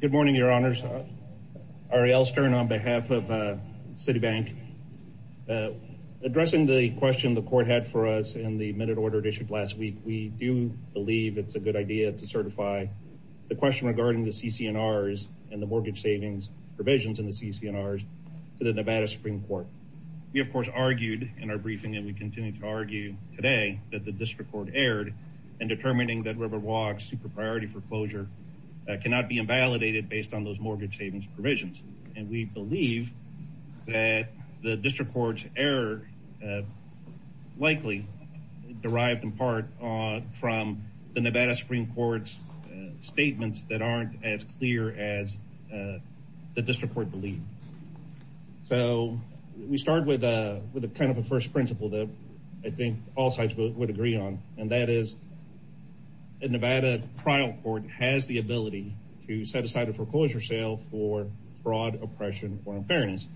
Good morning, Your Honors. Ari L. Stern on behalf of Citibank. Addressing the question the court had for us in the minute order issued last week, we do believe it's a good idea to certify the question regarding the CC&Rs and the mortgage savings provisions in the CC&Rs to the Nevada Supreme Court. We, of course, argued in our briefing, and we continue to argue today, that the district court erred in determining that Riverwalk's super priority foreclosure cannot be invalidated based on those mortgage savings provisions. And we believe that the district court's error likely derived in part from the Nevada Supreme Court's statements that aren't as clear as the district court believed. So we start with a kind of a first principle that I think all sides would agree on, and that is a Nevada trial court has the ability to set aside a foreclosure sale for fraud, oppression, or unfairness.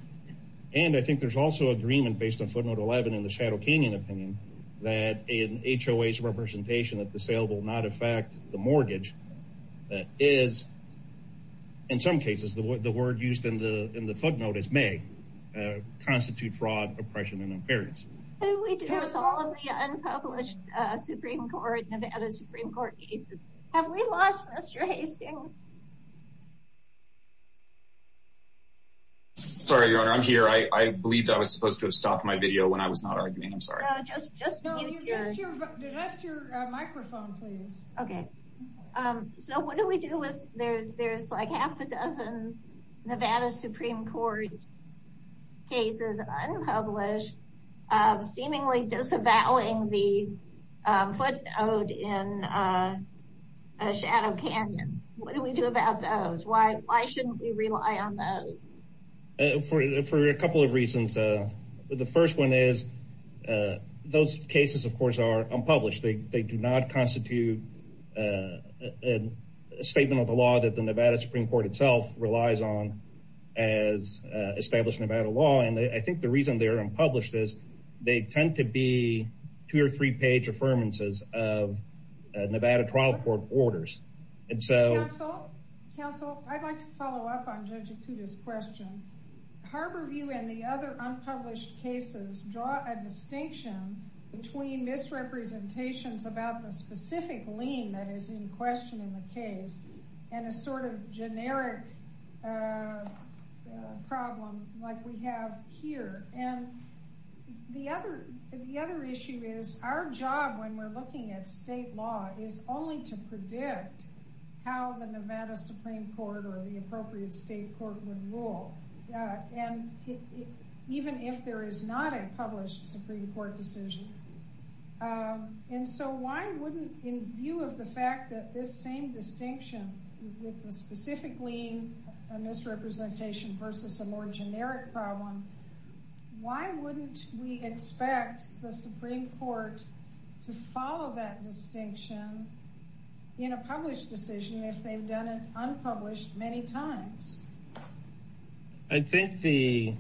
And I think there's also agreement based on footnote 11 in the Shadow Canyon opinion that in HOA's representation that the sale will not affect the mortgage that is, in some cases, the word used in the footnote is may constitute fraud, oppression, and unfairness. What do we do with all of the unpublished Nevada Supreme Court cases? Have we lost Mr. Hastings? Sorry, Your Honor. I'm here. I believe I was supposed to have stopped my video when I was not arguing. I'm sorry. Just mute your microphone, please. Okay. So what do we do with, there's like a half a dozen Nevada Supreme Court cases unpublished, seemingly disavowing the footnote in Shadow Canyon. What do we do about those? Why shouldn't we rely on those? For a couple of reasons. The first one is those cases, of course, are unpublished. They do not rely on established Nevada law. And I think the reason they're unpublished is they tend to be two or three page affirmances of Nevada trial court orders. Counsel, I'd like to follow up on Judge Ikuda's question. Harborview and the other unpublished cases draw a distinction between misrepresentations about the specific lien that is in question in the Nevada Supreme Court. And the other issue is our job when we're looking at state law is only to predict how the Nevada Supreme Court or the appropriate state court would rule. And even if there is not a published Supreme Court decision. And so why wouldn't in view of the fact that this same distinction with the specific lien, a misrepresentation versus a more generic problem, why wouldn't we expect the Supreme Court to follow that distinction in a published decision if they've done it unpublished many times? I think the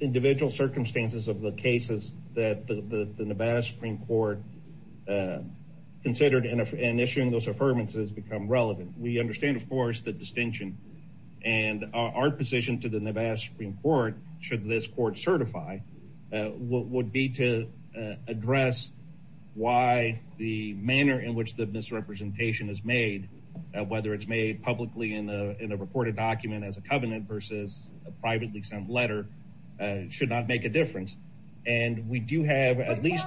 individual circumstances of the cases that the Nevada Supreme Court considered in issuing those affirmances become relevant. We understand of course the distinction and our position to the Nevada Supreme Court, should this court certify, would be to address why the manner in which the misrepresentation is made, whether it's made publicly in a reported document as a covenant versus a privately sent letter, should not make a difference. And we do have at least...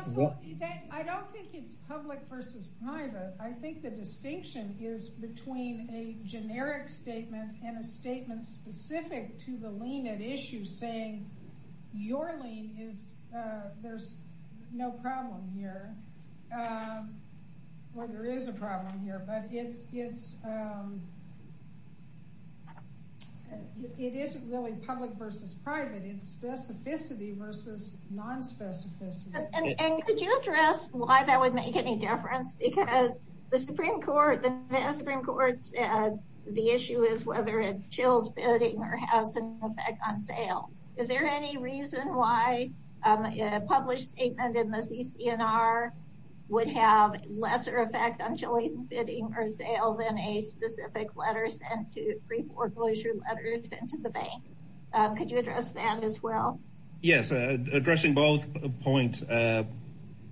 I don't think it's public versus private. I think the distinction is between a generic statement and a statement specific to the lien at issue saying your lien is, there's no problem here. Well there is a problem here, but it's, it isn't really public versus private. It's specificity versus non-specificity. And could you address why that would make any difference? Because the Supreme Court, the Nevada Supreme Court said the issue is whether it chills bidding or has an effect on sale. Is there any reason why a published statement in the CCNR would have lesser effect on chilling bidding or sale than a specific letter sent to, could you address that as well? Yes, addressing both points.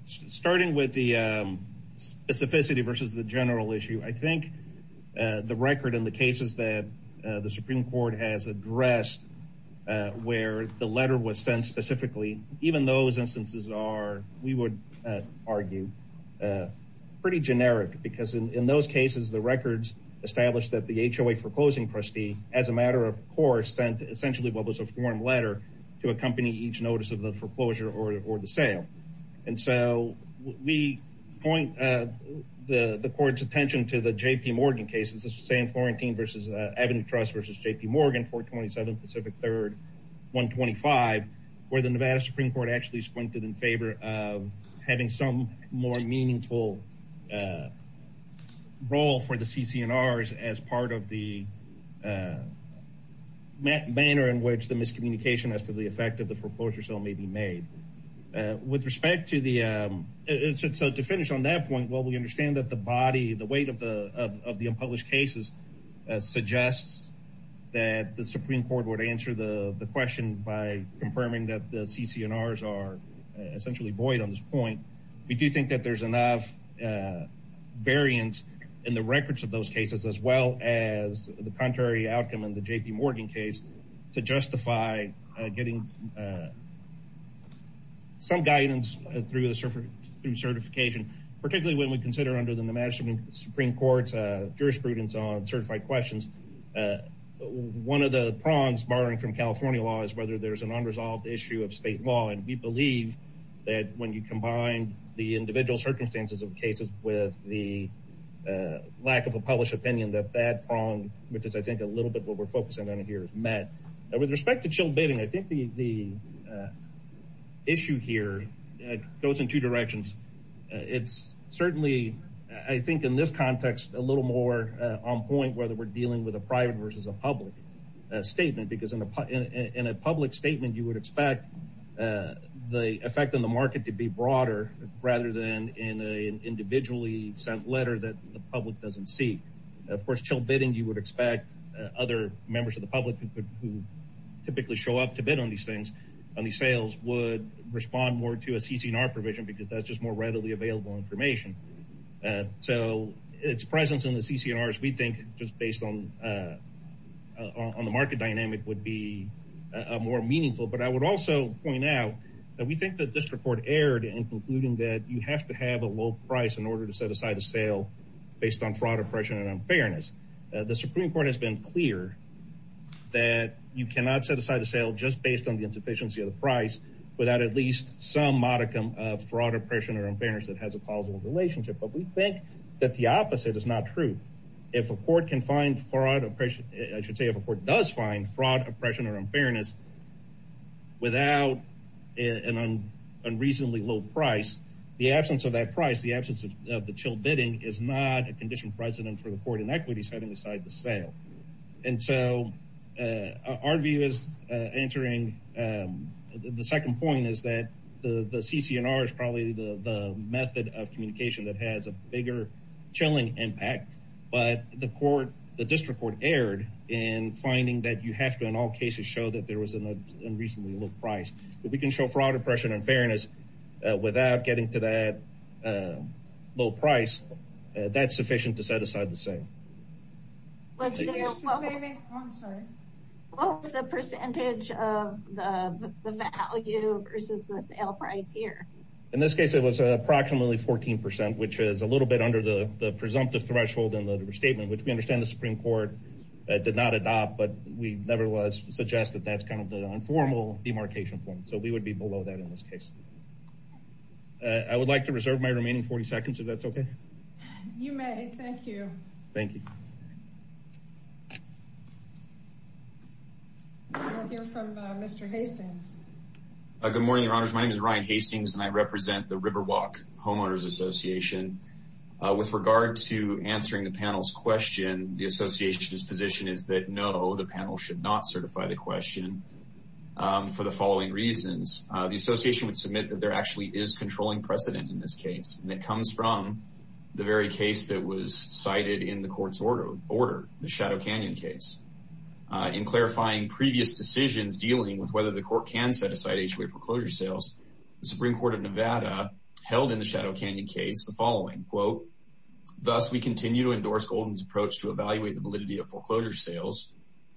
Starting with the specificity versus the general issue, I think the record in the cases that the Supreme Court has addressed where the letter was sent specifically, even those instances are, we would argue, pretty generic because in those cases the records establish that the HOA for closing trustee, as a matter of course, sent essentially what was a form letter to accompany each notice of the foreclosure or the sale. And so we point the court's attention to the J.P. Morgan case, this is the same Florentine versus Avenue Trust versus J.P. Morgan, 427 Pacific 3rd, 125, where the Nevada Supreme Court actually squinted in favor of having some more meaningful role for the CCNRs as part of the manner in which the miscommunication as to the effect of the foreclosure sale may be made. With respect to the, so to finish on that point, while we understand that the body, the weight of the unpublished cases suggests that the Supreme Court would answer the question by confirming that the CCNRs are essentially void on this point, we do think that there's enough variance in the records of those cases as well as the contrary outcome in the J.P. Morgan case to justify getting some guidance through the certification, particularly when we consider under the Nevada Supreme Court's jurisprudence on certified questions, one of the prongs, barring from California law, is whether there's an unresolved issue of state law. And we believe that when you combine the individual circumstances of cases with the lack of a published opinion, that bad prong, which is I think a little bit what we're focusing on here, is met. With respect to chilled bidding, I think the issue here goes in two directions. It's certainly, I think in this context, a little more on point whether we're dealing with a private versus a broader effect on the market rather than in an individually sent letter that the public doesn't see. Of course, chilled bidding, you would expect other members of the public who typically show up to bid on these things, on these sales, would respond more to a CCNR provision because that's just more readily available information. So its presence in the CCNRs, we think, just based on the market dynamic, would be more meaningful. But I would also point out that we think that this report erred in concluding that you have to have a low price in order to set aside a sale based on fraud, oppression, and unfairness. The Supreme Court has been clear that you cannot set aside a sale just based on the insufficiency of the price without at least some modicum of fraud, oppression, or unfairness that has a plausible relationship. But we think that the opposite is not true. If a court can find fraud, oppression, I should say if a court does find fraud, oppression, or unfairness without an unreasonably low price, the absence of that price, the absence of the chilled bidding, is not a conditioned precedent for the court inequity setting aside the sale. And so our view is answering the second point is that the CCNR is probably the method of but the district court erred in finding that you have to in all cases show that there was an unreasonably low price. If we can show fraud, oppression, and unfairness without getting to that low price, that's sufficient to set aside the sale. What was the percentage of the value versus the sale price here? In this case it was in the statement, which we understand the Supreme Court did not adopt, but we nevertheless suggest that that's kind of the informal demarcation point. So we would be below that in this case. I would like to reserve my remaining 40 seconds if that's okay. You may, thank you. Thank you. We'll hear from Mr. Hastings. Good morning, your honors. My name is Ryan Hastings and I represent the Riverwalk Homeowners Association. With regard to answering the panel's question, the association's position is that no, the panel should not certify the question for the following reasons. The association would submit that there actually is controlling precedent in this case, and it comes from the very case that was cited in the court's order, the Shadow Canyon case. In clarifying previous decisions dealing with whether the court can set aside HOA foreclosure sales, the Supreme Court of Nevada held in the Shadow Canyon case the following, quote, thus we continue to endorse Golden's approach to evaluate the validity of foreclosure sales.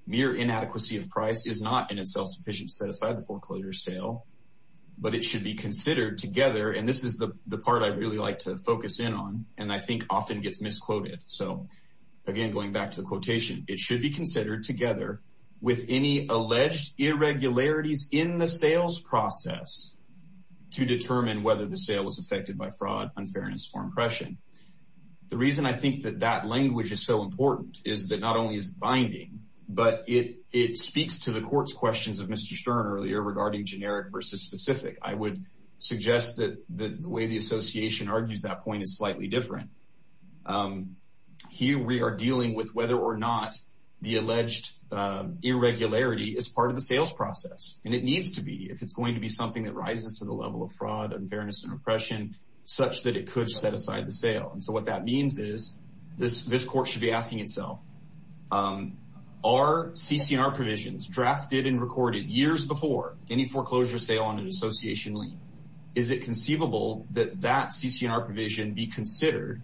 Mere inadequacy of price is not in itself sufficient to set aside the foreclosure sale, but it should be considered together, and this is the part I'd really like to focus in on and I think often gets misquoted. So again, going back to the quotation, it should be considered together with any alleged irregularities in the sales process to determine whether the sale was affected by fraud, unfairness, or impression. The reason I think that that language is so important is that not only is it binding, but it speaks to the court's questions of Mr. Stern earlier regarding generic versus specific. I would suggest that the way the association argues that point is different. Here we are dealing with whether or not the alleged irregularity is part of the sales process, and it needs to be if it's going to be something that rises to the level of fraud, unfairness, and oppression such that it could set aside the sale. And so what that means is this court should be asking itself, are CC&R provisions drafted and recorded years before any foreclosure sale on an association lien? Is it conceivable that that CC&R provision be considered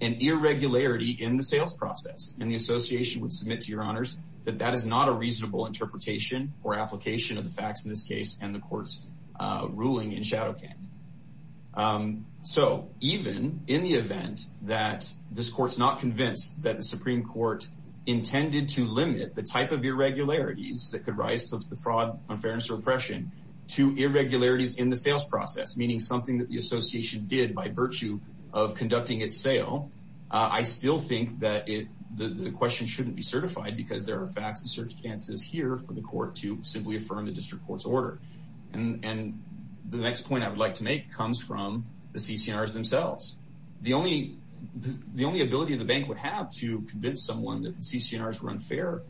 an irregularity in the sales process? And the association would submit to your honors that that is not a reasonable interpretation or application of the facts in this case and the court's ruling in Shadow Canyon. So even in the event that this court's not convinced that the Supreme Court intended to limit the type of irregularities that could rise to the fraud, unfairness, or oppression to irregularities in the sales process, meaning something that the association did by virtue of conducting its sale, I still think that the question shouldn't be certified because there are facts and circumstances here for the court to simply affirm the district court's order. And the next point I would like to make comes from the CC&Rs themselves. The only ability the bank would have to convince someone that the CC&Rs were unfair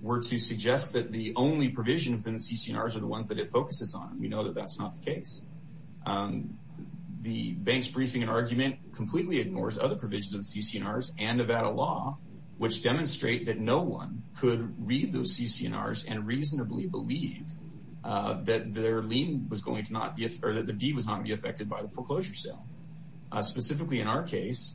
were to suggest that the only provision within the CC&Rs are the ones that it focuses on. We know that that's not the case. The bank's briefing and argument completely ignores other provisions of the CC&Rs and Nevada law which demonstrate that no one could read those CC&Rs and reasonably believe that their lien was going to not be, or that the deed was not to be affected by the CC&Rs.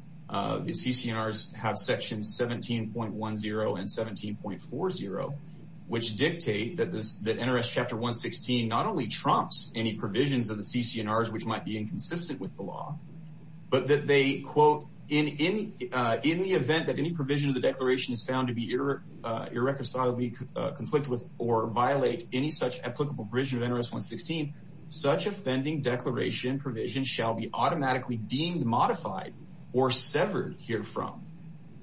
Which dictate that this, that NRS chapter 116 not only trumps any provisions of the CC&Rs which might be inconsistent with the law, but that they quote, in the event that any provision of the declaration is found to be irreconcilably conflict with or violate any such applicable provision of NRS 116, such offending declaration provision shall be automatically deemed modified or severed here from.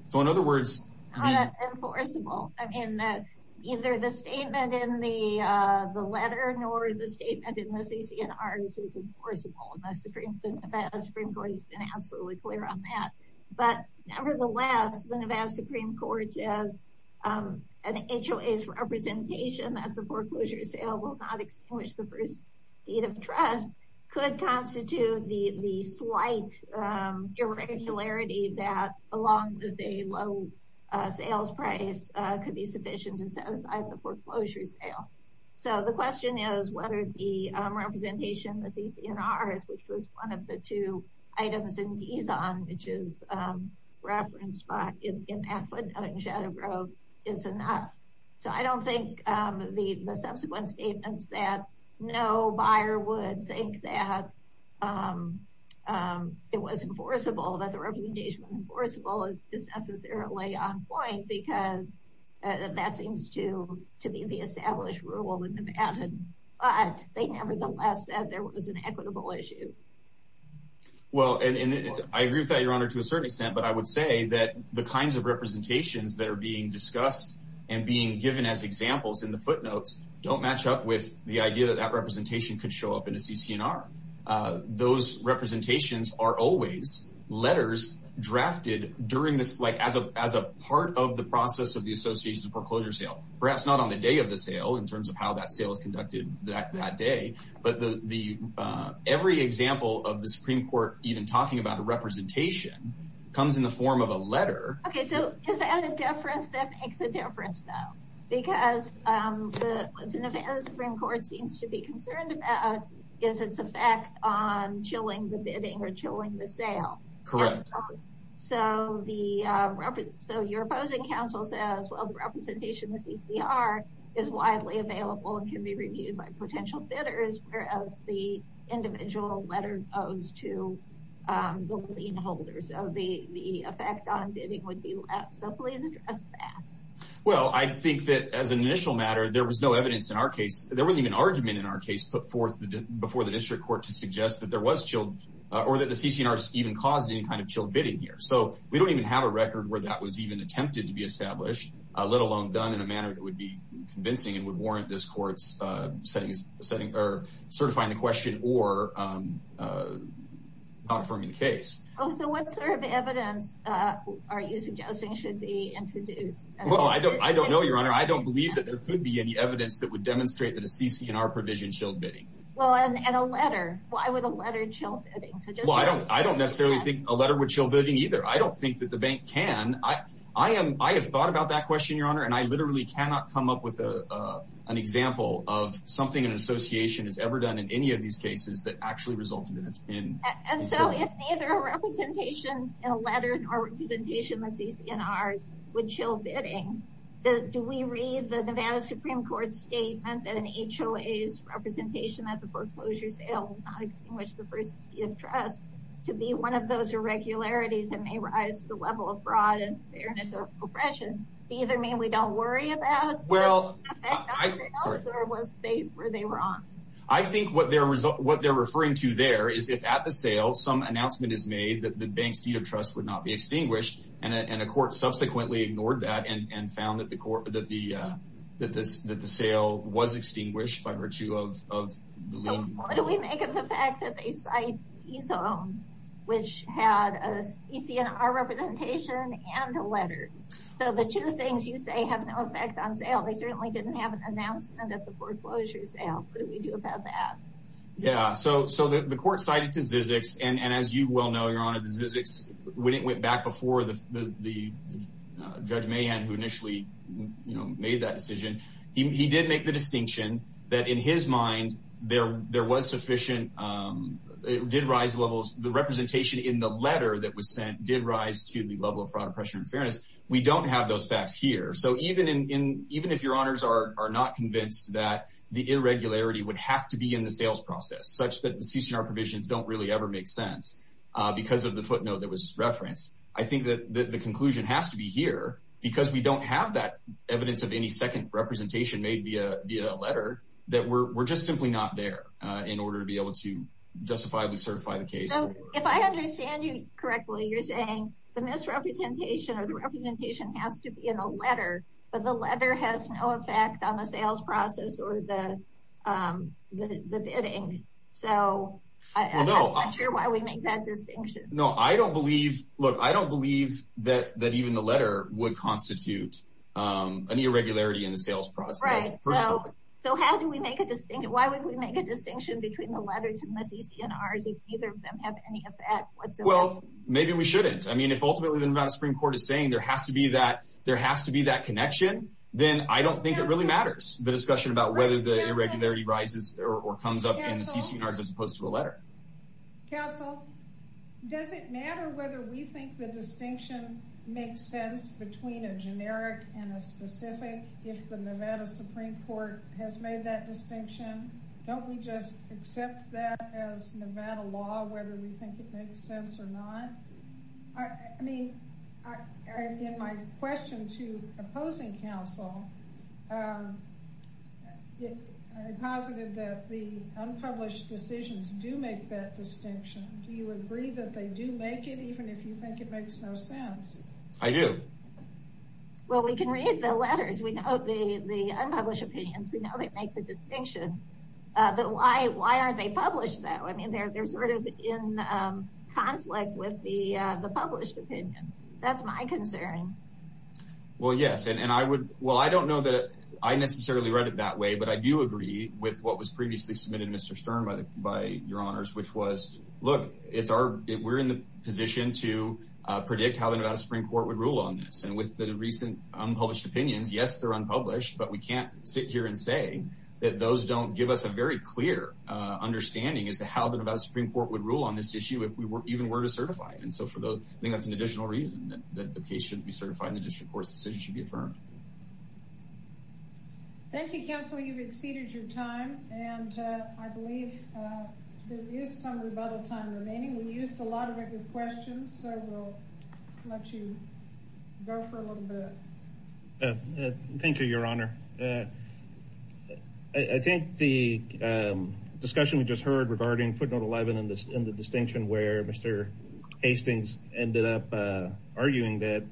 So in other words. It's not enforceable. I mean that either the statement in the letter nor the statement in the CC&Rs is enforceable and the Nevada Supreme Court has been absolutely clear on that. But nevertheless, the Nevada Supreme Court says an HOA's representation that the foreclosure sale will not extinguish the first deed of trust could constitute the slight irregularity that along with a low sales price could be sufficient to satisfy the foreclosure sale. So the question is whether the representation in the CC&Rs, which was one of the two items in Dizon, which is referenced by, in Pat Flint and Shadow Grove, is enough. So I don't think the subsequent statements that no buyer would think that it was enforceable, that the representation was enforceable is necessarily on point because that seems to be the established rule in Nevada. But they nevertheless said there was an equitable issue. Well, and I agree with that, Your Honor, to a certain extent. But I would say that the kinds of representations that are being discussed and being given as examples in the footnotes don't match up with the idea that that representation could show up in a CC&R. Those representations are always letters drafted as a part of the process of the association's foreclosure sale. Perhaps not on the day of the sale in terms of how that sale is conducted that day. But every example of the Supreme Court even talking about a representation comes in the form of a letter. Okay. So is that a difference? That makes a difference, though. Because what the Nevada Supreme Court seems to be concerned about is its effect on chilling the bidding or chilling the sale. Correct. So your opposing counsel says, well, the representation in the CC&R is widely available and can be reviewed by potential bidders, whereas the individual letter goes to the lien holder. The effect on bidding would be less. So please address that. Well, I think that as an initial matter, there was no evidence in our case. There wasn't even an argument in our case put forth before the district court to suggest that there was chilled or that the CC&R even caused any kind of chilled bidding here. So we don't even have a record where that was even attempted to be established, let alone done in a manner that would be convincing and would warrant this court's certifying the question or not affirming the case. Oh, so what sort of evidence are you suggesting should be introduced? Well, I don't know, Your Honor. I don't believe that there could be any evidence that would demonstrate that a CC&R provision chilled bidding. Well, and a letter. Why would a letter chill bidding? Well, I don't necessarily think a letter would chill bidding, either. I don't think that the bank can. I have thought about that question, Your Honor, and I literally cannot come up with an example of something an association has ever done in any of these cases that actually resulted in a bill. And so if neither a representation in a letter nor a representation in the CC&Rs would chill bidding, do we read the Nevada Supreme Court's statement and HOA's representation that the foreclosure sale will not extinguish the first deed of trust to be one of those irregularities and may rise to the level of fraud and fairness or oppression? Do either mean we don't worry about it? Well, I think what they're referring to there is if at the sale some announcement is made that the bank's deed of trust would not be extinguished, and a court subsequently ignored that and found that the sale was extinguished by virtue of the lien. What do we make of the fact that they cite EZone, which had a CC&R representation and a letter? So the two things you say have no effect on sale. They certainly didn't have an announcement of the foreclosure sale. What do we do about that? Yeah, so the court cited to Zizix, and as you well know, Your Honor, Zizix, when it went back before the Judge Mahan, who initially made that decision, he did make the distinction that in his mind there was sufficient, it did rise levels, the representation in the letter that was sent did rise to the level of fraud, oppression, and fairness. We don't have those facts here. So even if Your Honors are not convinced that the irregularity would have to be in the sales process, such that the CC&R provisions don't really ever make sense because of the footnote that was referenced, I think that the conclusion has to be here, because we don't have that evidence of any second representation made via a letter, that we're just simply not there in order to be able to justifiably certify the case. So if I understand you correctly, you're saying the misrepresentation or the representation has to be in a letter, but the letter has no effect on the sales process or the bidding. So I'm not sure why we make that distinction. No, I don't believe, look, I don't believe that even the letter would constitute an irregularity in the sales process. Right, so how do we make a distinction? Why would we make a distinction between the letters and the CC&Rs if neither of them have any effect whatsoever? Well, maybe we shouldn't. If ultimately the Nevada Supreme Court is saying there has to be that connection, then I don't think it really matters, the discussion about whether the irregularity rises or comes up in the CC&Rs as opposed to a letter. Counsel, does it matter whether we think the distinction makes sense between a generic and a specific if the Nevada Supreme Court has made that distinction? Don't we just accept that as Nevada law, whether we think it makes sense or not? I mean, in my question to opposing counsel, I posited that the unpublished decisions do make that distinction. Do you agree that they do make it, even if you think it makes no sense? I do. Well, we can read the letters. We know the unpublished opinions. We know they make the distinction. But why aren't they published, though? They're sort of in conflict with the published opinion. That's my concern. Well, yes. Well, I don't know that I necessarily read it that way, but I do agree with what was previously submitted to Mr. Stern by your honors, which was, look, we're in the position to predict how the Nevada Supreme Court would rule on this. And with the recent unpublished opinions, yes, they're unpublished, but we can't sit here and say that those don't give us a very clear understanding as to how the Nevada Supreme Court would rule on this issue if we even were to certify it. And so for those, I think that's an additional reason that the case shouldn't be certified and the district court's decision should be affirmed. Thank you, counsel. You've exceeded your time, and I believe there is some rebuttal time remaining. We used a lot of questions, so we'll let you go for a little bit. Thank you, your honor. I think the discussion we just heard regarding footnote 11 and the distinction where Mr. Hastings ended up arguing that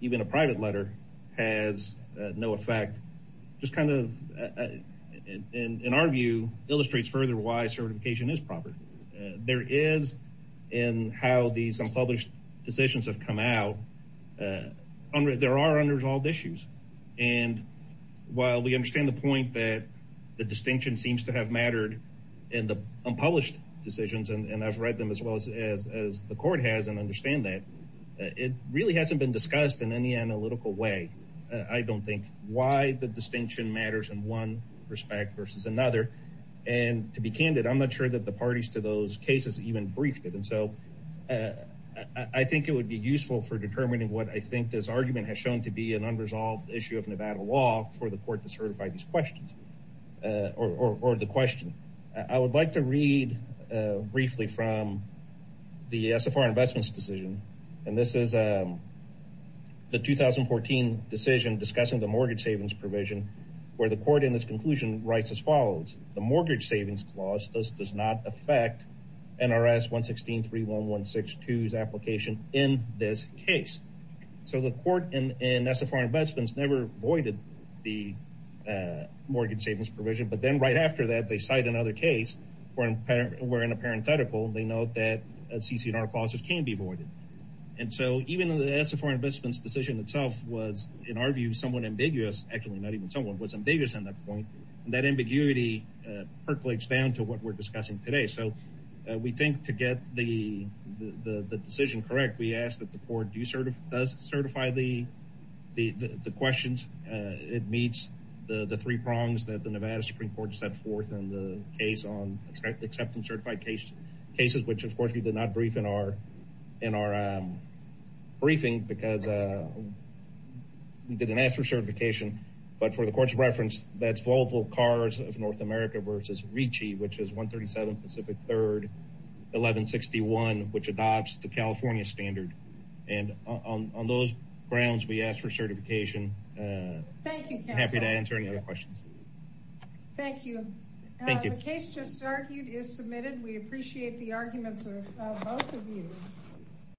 even a private letter has no effect, just kind of, in our view, illustrates further why certification is proper. There is, in how these unpublished decisions have come out, there are unresolved issues. And while we understand the point that the distinction seems to have mattered in the unpublished decisions, and I've read them as well as the court has and understand that, it really hasn't been discussed in any analytical way, I don't think, why the distinction matters in one respect versus another. And to be candid, I'm not sure that the parties to those cases even briefed it. And so I think it would be useful for determining what I think this argument has shown to be an unresolved issue of Nevada law for the court to certify these questions. Or the question. I would like to read briefly from the SFR investments decision, and this is the 2014 decision discussing the mortgage savings provision, where the court in this conclusion writes as follows. The mortgage savings clause does not affect NRS 116.31162's application in this case. So the court in SFR investments never voided the mortgage savings provision, but then right after that, they cite another case where in a parenthetical, they note that CC&R clauses can be voided. And so even though the SFR investments decision itself was, in our view, somewhat ambiguous, actually not even somewhat, was ambiguous on that point, that ambiguity percolates down to what we're discussing today. We think to get the decision correct, we ask that the court do certify the questions. It meets the three prongs that the Nevada Supreme Court set forth in the case on acceptance certified cases, which of course we did not brief in our briefing, because we didn't ask for certification. But for the court's reference, that's Volvo Cars of North America versus Ricci, which is 137 Pacific 3rd 1161, which adopts the California standard. And on those grounds, we ask for certification. Thank you. Happy to answer any other questions. Thank you. The case just argued is submitted. We appreciate the arguments of both of you.